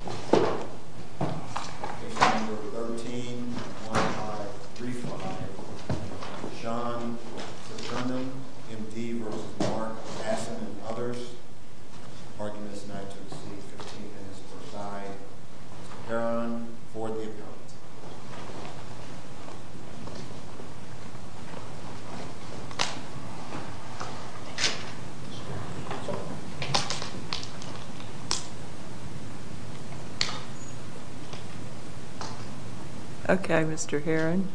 Page number 13, 1-5, 3-5. Sean Sutterman, M.D. vs. Mark Basson and others. Arguments in item C, 15 minutes per side. Mr. Perron, for the appellate. Okay, Mr. Herron.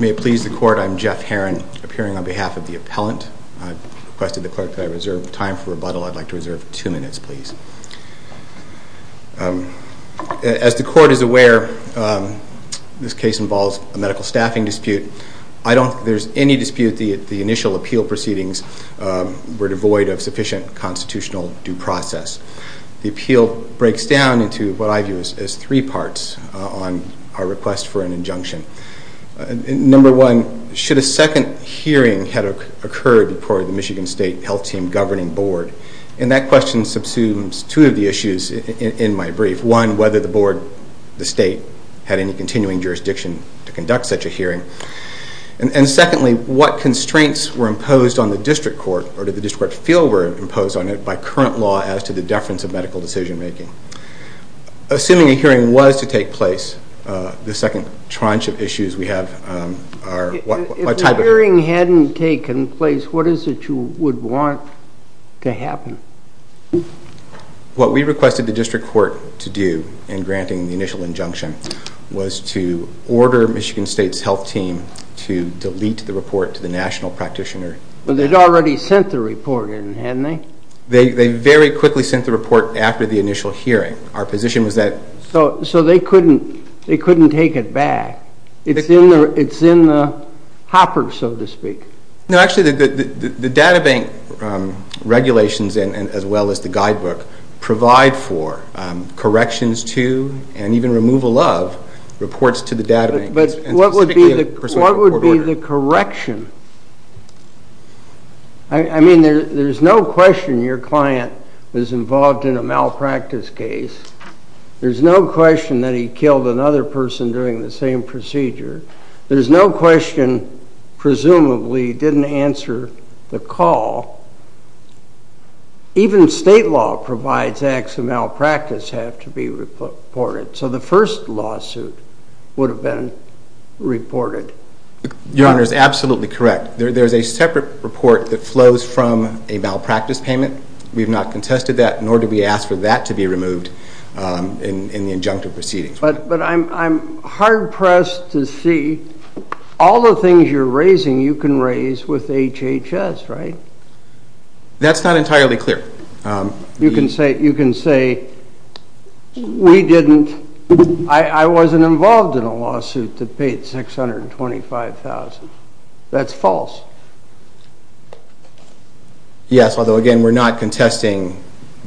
May it please the court, I'm Jeff Herron, appearing on behalf of the appellant. I requested the clerk to reserve time for rebuttal. I'd like to reserve two minutes, please. As the court is aware, this case involves a medical staffing dispute. I don't think there's any dispute that the initial appeal proceedings were devoid of sufficient constitutional due process. The appeal breaks down into what I view as three parts on our request for an injunction. Number one, should a second hearing have occurred before the Michigan State Health Team Governing Board? And that question subsumes two of the issues in my brief. One, whether the board, the state, had any continuing jurisdiction to conduct such a hearing. And secondly, what constraints were imposed on the district court, or did the district court feel were imposed on it, by current law as to the deference of medical decision making? Assuming a hearing was to take place, the second tranche of issues we have are... If the hearing hadn't taken place, what is it you would want to happen? What we requested the district court to do in granting the initial injunction was to order Michigan State's health team to delete the report to the national practitioner. But they'd already sent the report in, hadn't they? They very quickly sent the report after the initial hearing. Our position was that... So they couldn't take it back. It's in the hopper, so to speak. No, actually, the data bank regulations, as well as the guidebook, provide for corrections to, and even removal of, reports to the data bank. But what would be the correction? I mean, there's no question your client was involved in a malpractice case. There's no question that he killed another person during the same procedure. There's no question, presumably, he didn't answer the call. Even state law provides acts of malpractice have to be reported. So the first lawsuit would have been reported. Your Honor is absolutely correct. There's a separate report that flows from a malpractice payment. We've not contested that, nor did we ask for that to be removed in the injunctive proceedings. But I'm hard-pressed to see all the things you're raising you can raise with HHS, right? That's not entirely clear. You can say, we didn't, I wasn't involved in a lawsuit that paid $625,000. That's false. Yes, although, again, we're not contesting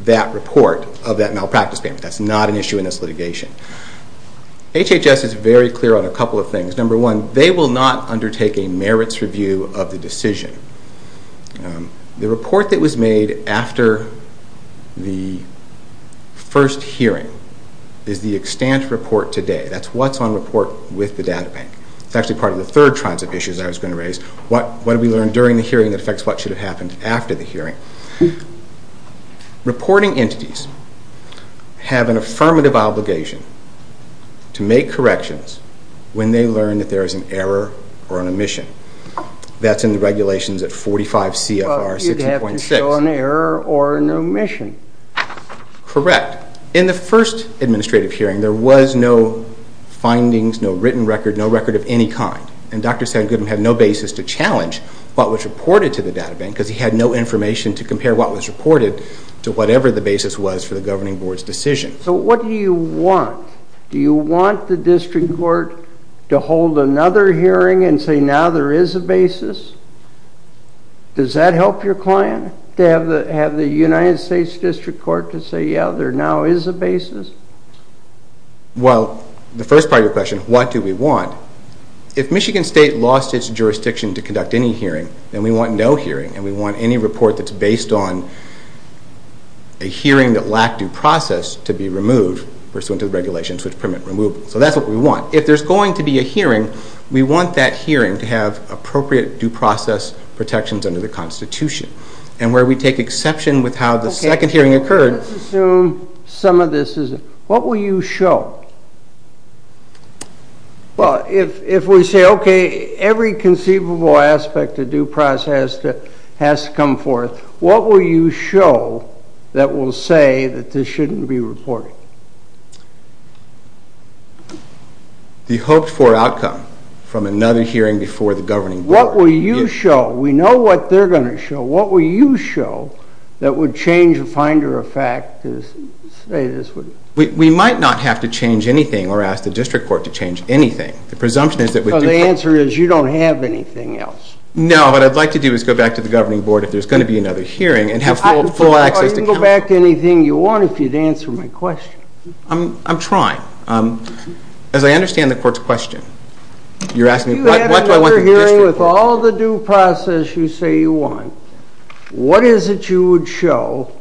that report of that malpractice payment. That's not an issue in this litigation. HHS is very clear on a couple of things. Number one, they will not undertake a merits review of the decision. The report that was made after the first hearing is the extant report today. That's what's on report with the data bank. It's actually part of the third tribes of issues I was going to raise. What did we learn during the hearing that affects what should have happened after the hearing? Reporting entities have an affirmative obligation to make corrections when they learn that there is an error or an omission. That's in the regulations at 45 CFR 60.6. You'd have to show an error or an omission. Correct. In the first administrative hearing, there was no findings, no written record, no record of any kind. And Dr. Sandgutman had no basis to challenge what was reported to the data bank because he had no information to compare what was reported to whatever the basis was for the governing board's decision. So what do you want? Do you want the district court to hold another hearing and say, now there is a basis? Does that help your client, to have the United States District Court to say, yeah, there now is a basis? Well, the first part of your question, what do we want? If Michigan State lost its jurisdiction to conduct any hearing, then we want no hearing, and we want any report that's based on a hearing that lacked due process to be removed pursuant to the regulations which permit removal. So that's what we want. Now, if there's going to be a hearing, we want that hearing to have appropriate due process protections under the Constitution. And where we take exception with how the second hearing occurred... Let's assume some of this is... What will you show? Well, if we say, okay, every conceivable aspect of due process has to come forth, what will you show that will say that this shouldn't be reported? The hoped-for outcome from another hearing before the governing board. What will you show? We know what they're going to show. What will you show that would change the finder of fact to say this would... We might not have to change anything or ask the District Court to change anything. The presumption is that... So the answer is you don't have anything else. No, what I'd like to do is go back to the governing board if there's going to be another hearing and have full access to counsel. You can go back to anything you want if you'd answer my question. I'm trying. As I understand the court's question, you're asking what do I want the District Court... If you have another hearing with all the due process you say you want, what is it you would show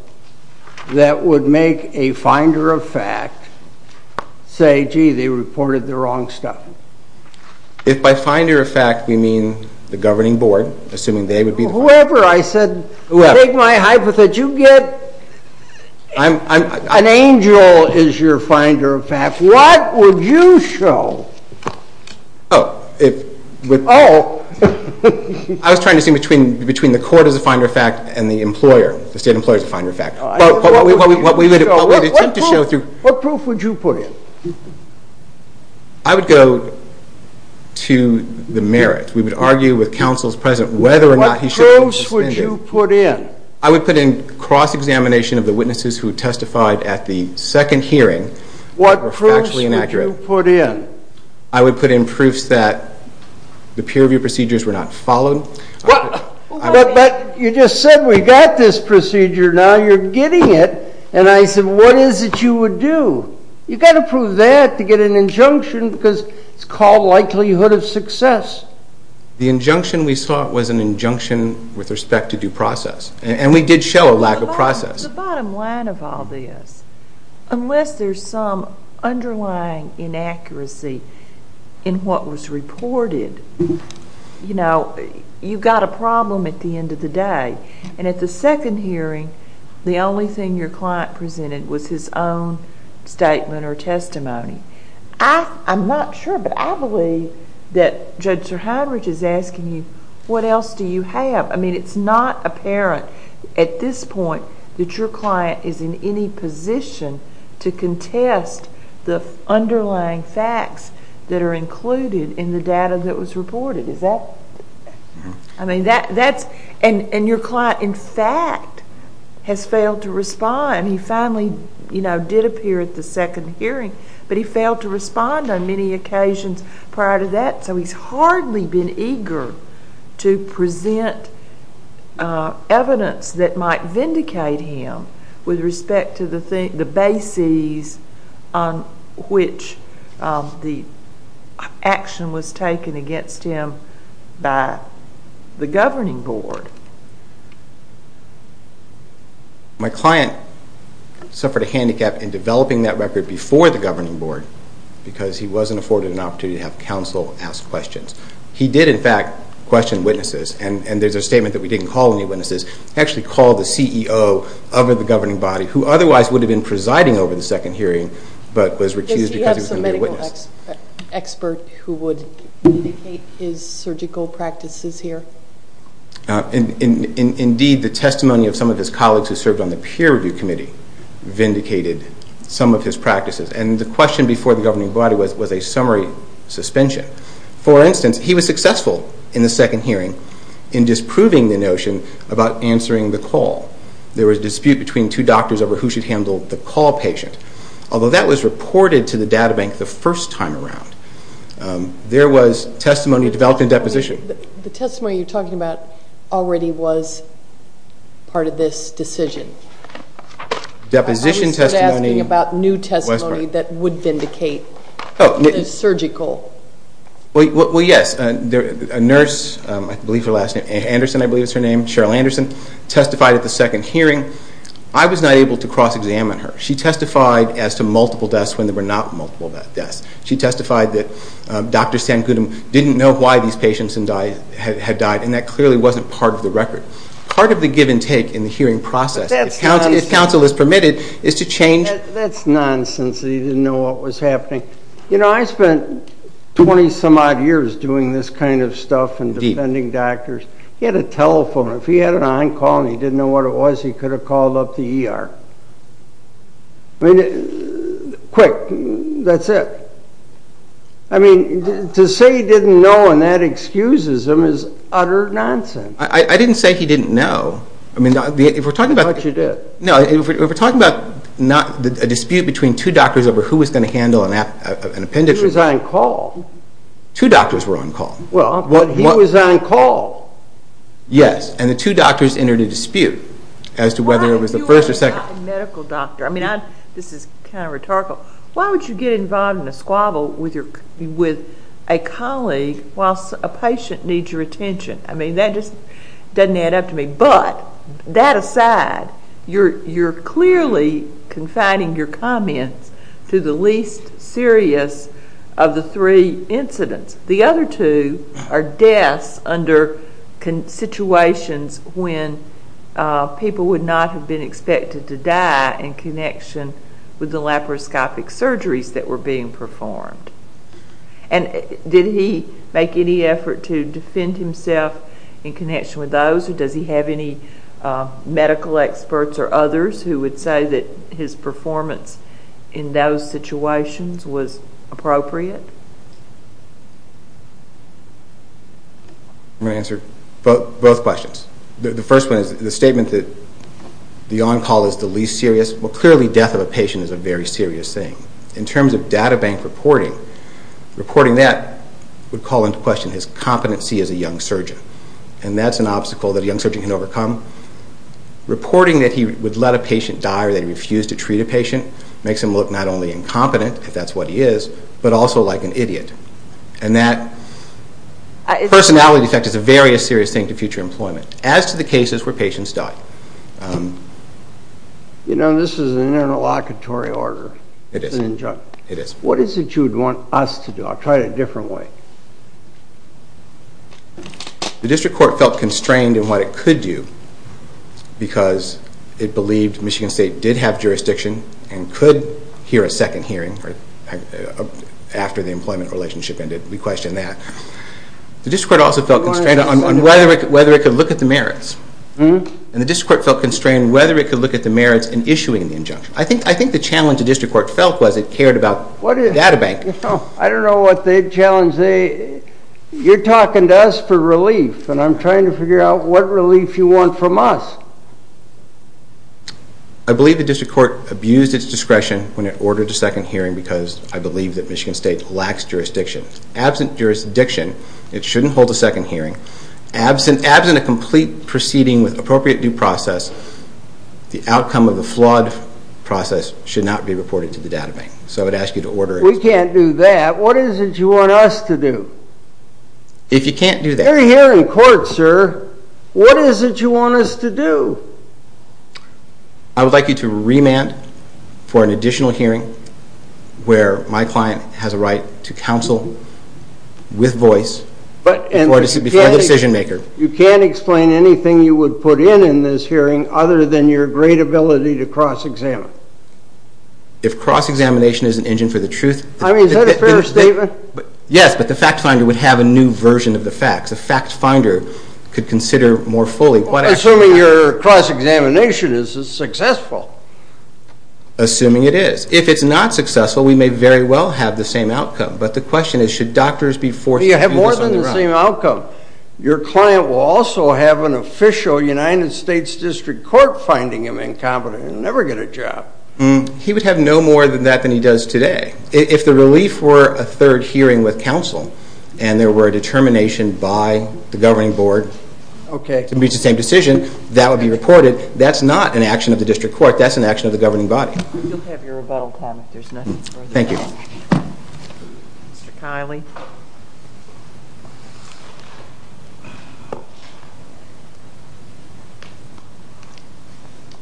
that would make a finder of fact say, gee, they reported the wrong stuff? If by finder of fact we mean the governing board, assuming they would be the... Whoever, I said... Whoever. Take my hypothesis. You get... An angel is your finder of fact. What would you show? Oh, if... Oh. I was trying to see between the court as a finder of fact and the employer, the state employer as a finder of fact. What would you show? What proof would you put in? I would go to the merit. We would argue with counsel's presence whether or not he should be suspended. What proofs would you put in? I would put in cross-examination of the witnesses who testified at the second hearing that were factually inaccurate. What proofs would you put in? I would put in proofs that the peer review procedures were not followed. But you just said we got this procedure. Now you're getting it. And I said, what is it you would do? You've got to prove that to get an injunction because it's called likelihood of success. The injunction we sought was an injunction with respect to due process. And we did show a lack of process. The bottom line of all this, unless there's some underlying inaccuracy in what was reported, you know, you've got a problem at the end of the day. And at the second hearing, the only thing your client presented was his own statement or testimony. I'm not sure, but I believe that Judge Sirhinridge is asking you, what else do you have? I mean, it's not apparent at this point that your client is in any position to contest the underlying facts that are included in the data that was reported. Is that... I mean, that's... And your client, in fact, has failed to respond. He finally, you know, did appear at the second hearing, but he failed to respond on many occasions prior to that. So he's hardly been eager to present evidence that might vindicate him with respect to the bases on which the action was taken against him by the governing board. My client suffered a handicap in developing that record before the governing board because he wasn't afforded an opportunity to have counsel ask questions. He did, in fact, question witnesses. And there's a statement that we didn't call any witnesses. He actually called the CEO of the governing body, who otherwise would have been presiding over the second hearing, but was recused because he was going to be a witness. Does he have some medical expert who would vindicate his surgical practices here? Indeed, the testimony of some of his colleagues who served on the peer review committee vindicated some of his practices. And the question before the governing body was a summary suspension. For instance, he was successful in the second hearing in disproving the notion about answering the call. There was a dispute between two doctors over who should handle the call patient, although that was reported to the data bank the first time around. There was testimony developed in deposition. The testimony you're talking about already was part of this decision. Deposition testimony... I was just asking about new testimony that would vindicate the surgical... Well, yes. A nurse, I believe her last name... Anderson, I believe is her name, Cheryl Anderson, testified at the second hearing. I was not able to cross-examine her. She testified as to multiple deaths when there were not multiple deaths. She testified that Dr. Sancutum didn't know why these patients had died, and that clearly wasn't part of the record. Part of the give and take in the hearing process, if counsel is permitted, is to change... That's nonsense that he didn't know what was happening. You know, I spent 20-some odd years doing this kind of stuff and defending doctors. He had a telephone. If he had an on-call and he didn't know what it was, he could have called up the ER. I mean, quick, that's it. I mean, to say he didn't know and that excuses him is utter nonsense. I didn't say he didn't know. I thought you did. No, if we're talking about a dispute between two doctors over who was going to handle an appendix... He was on-call. Two doctors were on-call. Well, but he was on-call. Yes, and the two doctors entered a dispute as to whether it was the first or second... Why would you invite a medical doctor? I mean, this is kind of rhetorical. Why would you get involved in a squabble with a colleague while a patient needs your attention? I mean, that just doesn't add up to me. But that aside, you're clearly confiding your comments to the least serious of the three incidents. The other two are deaths under situations when people would not have been expected to die in connection with the laparoscopic surgeries that were being performed. And did he make any effort to defend himself in connection with those or does he have any medical experts or others who would say that his performance in those situations was appropriate? I'm going to answer both questions. The first one is the statement that the on-call is the least serious. Well, clearly death of a patient is a very serious thing. In terms of databank reporting, reporting that would call into question his competency as a young surgeon. And that's an obstacle that a young surgeon can overcome. Reporting that he would let a patient die or that he refused to treat a patient makes him look not only incompetent, if that's what he is, but also like an idiot. And that personality defect is a very serious thing to future employment, as to the cases where patients die. You know, this is an interlocutory order. It is. What is it you'd want us to do? I'll try it a different way. The district court felt constrained in what it could do because it believed Michigan State did have jurisdiction and could hear a second hearing after the employment relationship ended. We question that. The district court also felt constrained on whether it could look at the merits. And the district court felt constrained whether it could look at the merits in issuing the injunction. I think the challenge the district court felt was it cared about databank. I don't know what the challenge... You're talking to us for relief and I'm trying to figure out what relief you want from us. I believe the district court abused its discretion when it ordered a second hearing because I believe that Michigan State lacks jurisdiction. Absent jurisdiction, it shouldn't hold a second hearing. Absent a complete proceeding with appropriate due process, the outcome of the flawed process should not be reported to the databank. So I would ask you to order... We can't do that. What is it you want us to do? If you can't do that... We're here in court, sir. What is it you want us to do? I would like you to remand for an additional hearing where my client has a right to counsel with voice before the decision maker. You can't explain anything you would put in in this hearing other than your great ability to cross-examine. If cross-examination is an engine for the truth... I mean, is that a fair statement? Yes, but the fact finder would have a new version of the facts. A fact finder could consider more fully... Assuming your cross-examination is successful. Assuming it is. If it's not successful, we may very well have the same outcome. But the question is, should doctors be forced... You have more than the same outcome. Your client will also have an official United States District Court finding him incompetent and never get a job. He would have no more than that than he does today. If the relief were a third hearing with counsel and there were a determination by the governing board to meet the same decision, that would be reported. That's not an action of the district court. That's an action of the governing body. You'll have your rebuttal time if there's nothing further. Thank you. Mr. Kiley.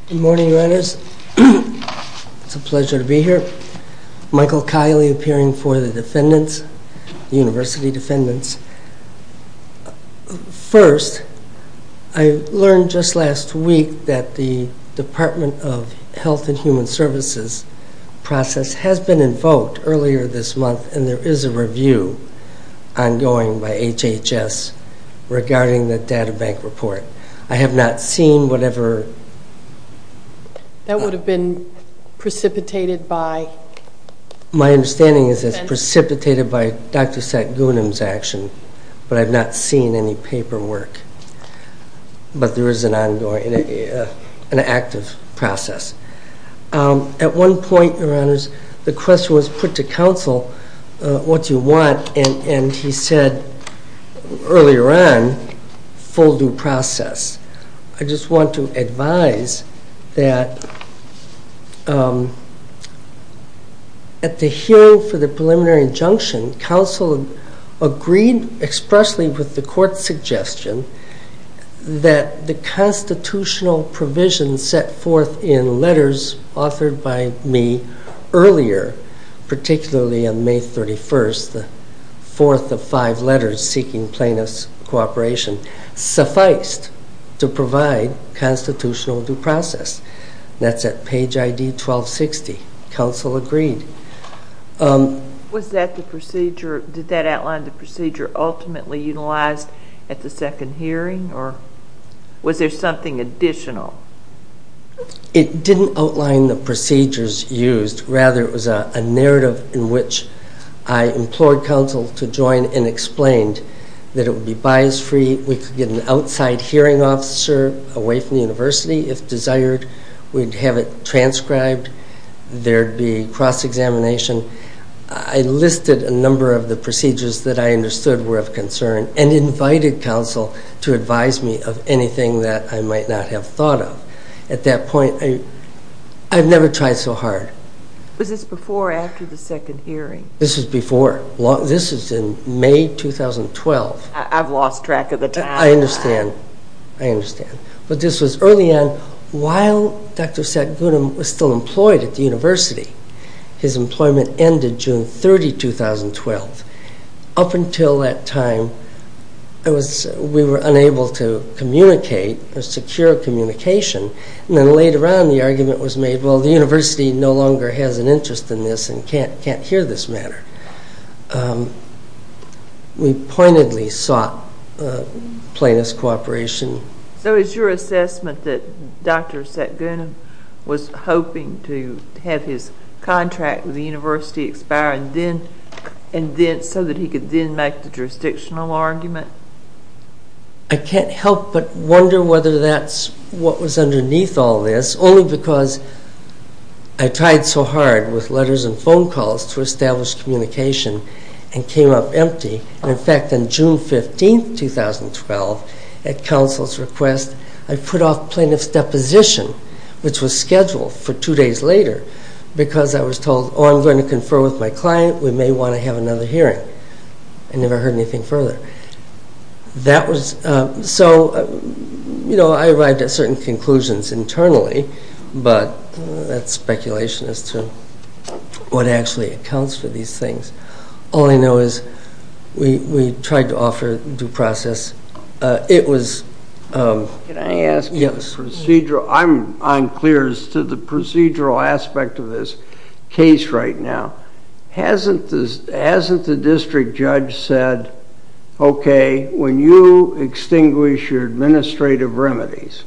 Good morning, Reynolds. It's a pleasure to be here. Michael Kiley, appearing for the defendants, the university defendants. First, I learned just last week that the Department of Health and Human Services process I'm not sure if you've heard of it. It's an ongoing by HHS regarding the databank report. I have not seen whatever... That would have been precipitated by... My understanding is it's precipitated by Dr. Satgunam's action. But I've not seen any paperwork. But there is an ongoing, an active process. What do you want? And he said earlier on, full due process. I just want to advise that at the hearing for the preliminary injunction, counsel agreed expressly with the court's suggestion that the constitutional provision set forth in letters authored by me earlier, particularly on May 31st, the fourth of five letters seeking plaintiff's cooperation, sufficed to provide constitutional due process. That's at page ID 1260. Counsel agreed. Was that the procedure... Did that outline the procedure ultimately utilized at the second hearing? Or was there something additional? It didn't outline the procedures used. Rather, it was a narrative in which I implored counsel to join and explained that it would be bias-free, we could get an outside hearing officer away from the university if desired, we'd have it transcribed, there'd be cross-examination. I listed a number of the procedures that I understood were of concern and invited counsel to advise me of anything that I might not have thought of. At that point, I'd never tried so hard. Was this before or after the second hearing? This was before. This was in May 2012. I've lost track of the time. I understand. I understand. But this was early on. While Dr. Satgunam was still employed at the university, his employment ended June 30, 2012. Up until that time, we were unable to communicate, secure communication, and then later on the argument was made, well, the university no longer has an interest in this and can't hear this matter. We pointedly sought plaintiff's cooperation. So is your assessment that Dr. Satgunam was hoping to have his contract with the university expire so that he could then make the jurisdictional argument? I can't help but wonder whether that's what was underneath all this, only because I tried so hard with letters and phone calls to establish communication and came up empty. In fact, on June 15, 2012, at counsel's request, I put off plaintiff's deposition, which was scheduled for two days later, because I was told, oh, I'm going to confer with my client. We may want to have another hearing. I never heard anything further. So I arrived at certain conclusions internally, but that's speculation as to what actually accounts for these things. All I know is we tried to offer due process. It was... Can I ask? Yes. I'm unclear as to the procedural aspect of this case right now. Hasn't the district judge said, okay, when you extinguish your administrative remedies,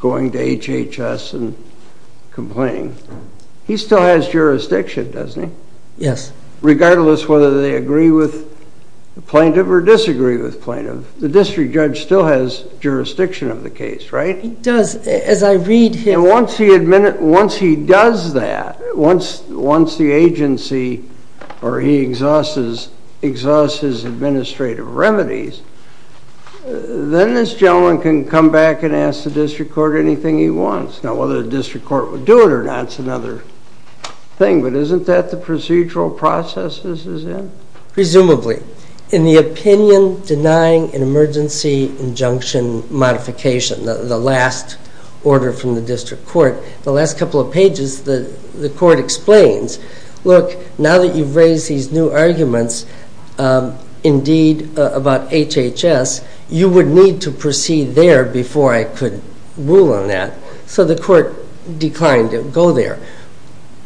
going to HHS and complaining, he still has jurisdiction, doesn't he? Yes. Regardless whether they agree with plaintiff or disagree with plaintiff, the district judge still has jurisdiction of the case, right? He does. As I read his... And once he does that, once the agency, or he exhausts his administrative remedies, then this gentleman can come back and ask the district court anything he wants. Now, whether the district court would do it or not is another thing, but isn't that the procedural process this is in? Presumably. In the opinion denying an emergency injunction modification, the last order from the district court, the last couple of pages the court explains, look, now that you've raised these new arguments indeed about HHS, you would need to proceed there before I could rule on that. So the court declined to go there.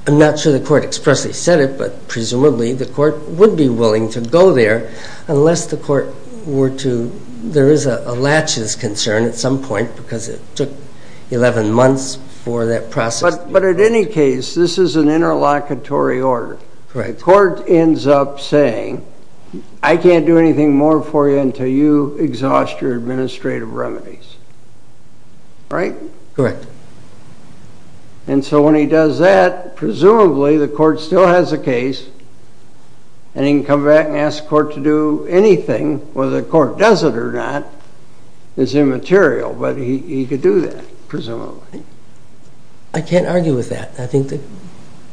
I'm not sure the court expressly said it, but presumably the court would be willing to go there Unless the court were to... There is a latches concern at some point because it took 11 months for that process. But at any case, this is an interlocutory order. The court ends up saying, I can't do anything more for you until you exhaust your administrative remedies. Right? Correct. And so when he does that, presumably the court still has a case and he can come back and ask the court to do anything, whether the court does it or not is immaterial, but he could do that, presumably. I can't argue with that. I think the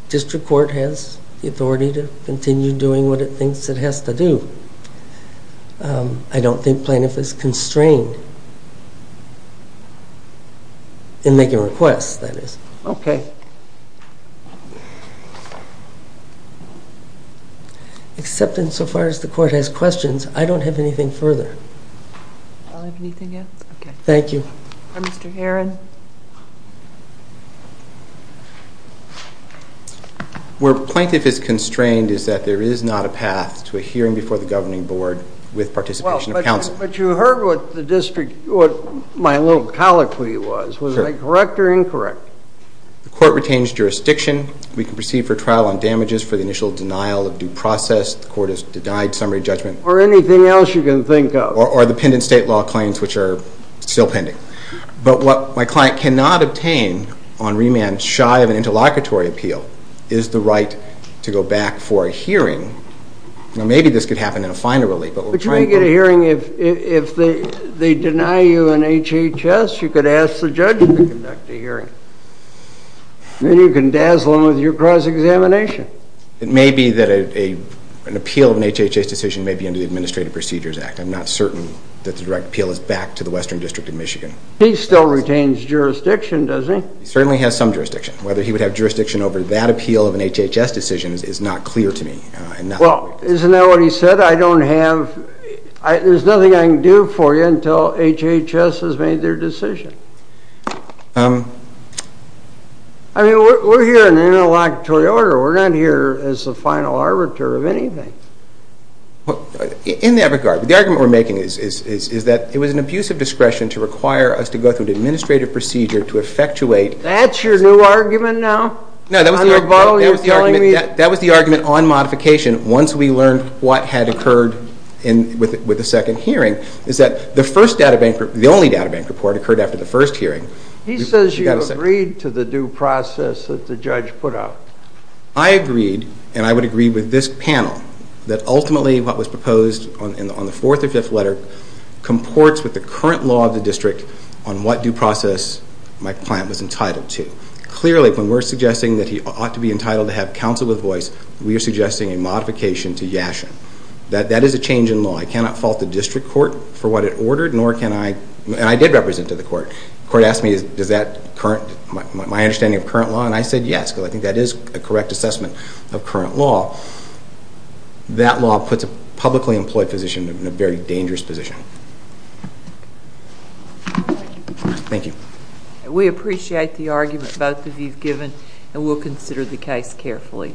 district court has the authority to continue doing what it thinks it has to do. I don't think plaintiff is constrained in making requests, that is. Okay. Except insofar as the court has questions, I don't have anything further. Anything else? Thank you. Mr. Heron. Where plaintiff is constrained is that there is not a path to a hearing before the governing board with participation of counsel. But you heard what my little colloquy was. Was I correct or incorrect? The court retains jurisdiction. We can proceed for trial on damages for the initial denial of due process. The court has denied summary judgment. Or anything else you can think of. Or the pendent state law claims, which are still pending. But what my client cannot obtain on remand, shy of an interlocutory appeal, is the right to go back for a hearing. Now, maybe this could happen in a final ruling, but we'll try and get a hearing. But you may get a hearing if they deny you an HHS, you could ask the judge to conduct a hearing. Then you can dazzle them with your cross-examination. It may be that an appeal of an HHS decision may be under the Administrative Procedures Act. I'm not certain that the direct appeal is back to the Western District of Michigan. He still retains jurisdiction, doesn't he? He certainly has some jurisdiction. Whether he would have jurisdiction over that appeal of an HHS decision is not clear to me. Well, isn't that what he said? There's nothing I can do for you until HHS has made their decision. I mean, we're here in an interlocutory order. We're not here as the final arbiter of anything. In that regard, the argument we're making is that it was an abuse of discretion to require us to go through an administrative procedure to effectuate. That's your new argument now? No, that was the argument on modification once we learned what had occurred with the second hearing, is that the only databank report occurred after the first hearing. He says you agreed to the due process that the judge put out. I agreed, and I would agree with this panel, that ultimately what was proposed on the fourth or fifth letter comports with the current law of the district on what due process my client was entitled to. Clearly, when we're suggesting that he ought to be entitled to have counsel with voice, we are suggesting a modification to Yashin. That is a change in law. I cannot fault the district court for what it ordered, and I did represent to the court. The court asked me my understanding of current law, and I said yes, because I think that is a correct assessment of current law. That law puts a publicly employed physician in a very dangerous position. Thank you. We appreciate the argument both of you have given, and we'll consider the case carefully.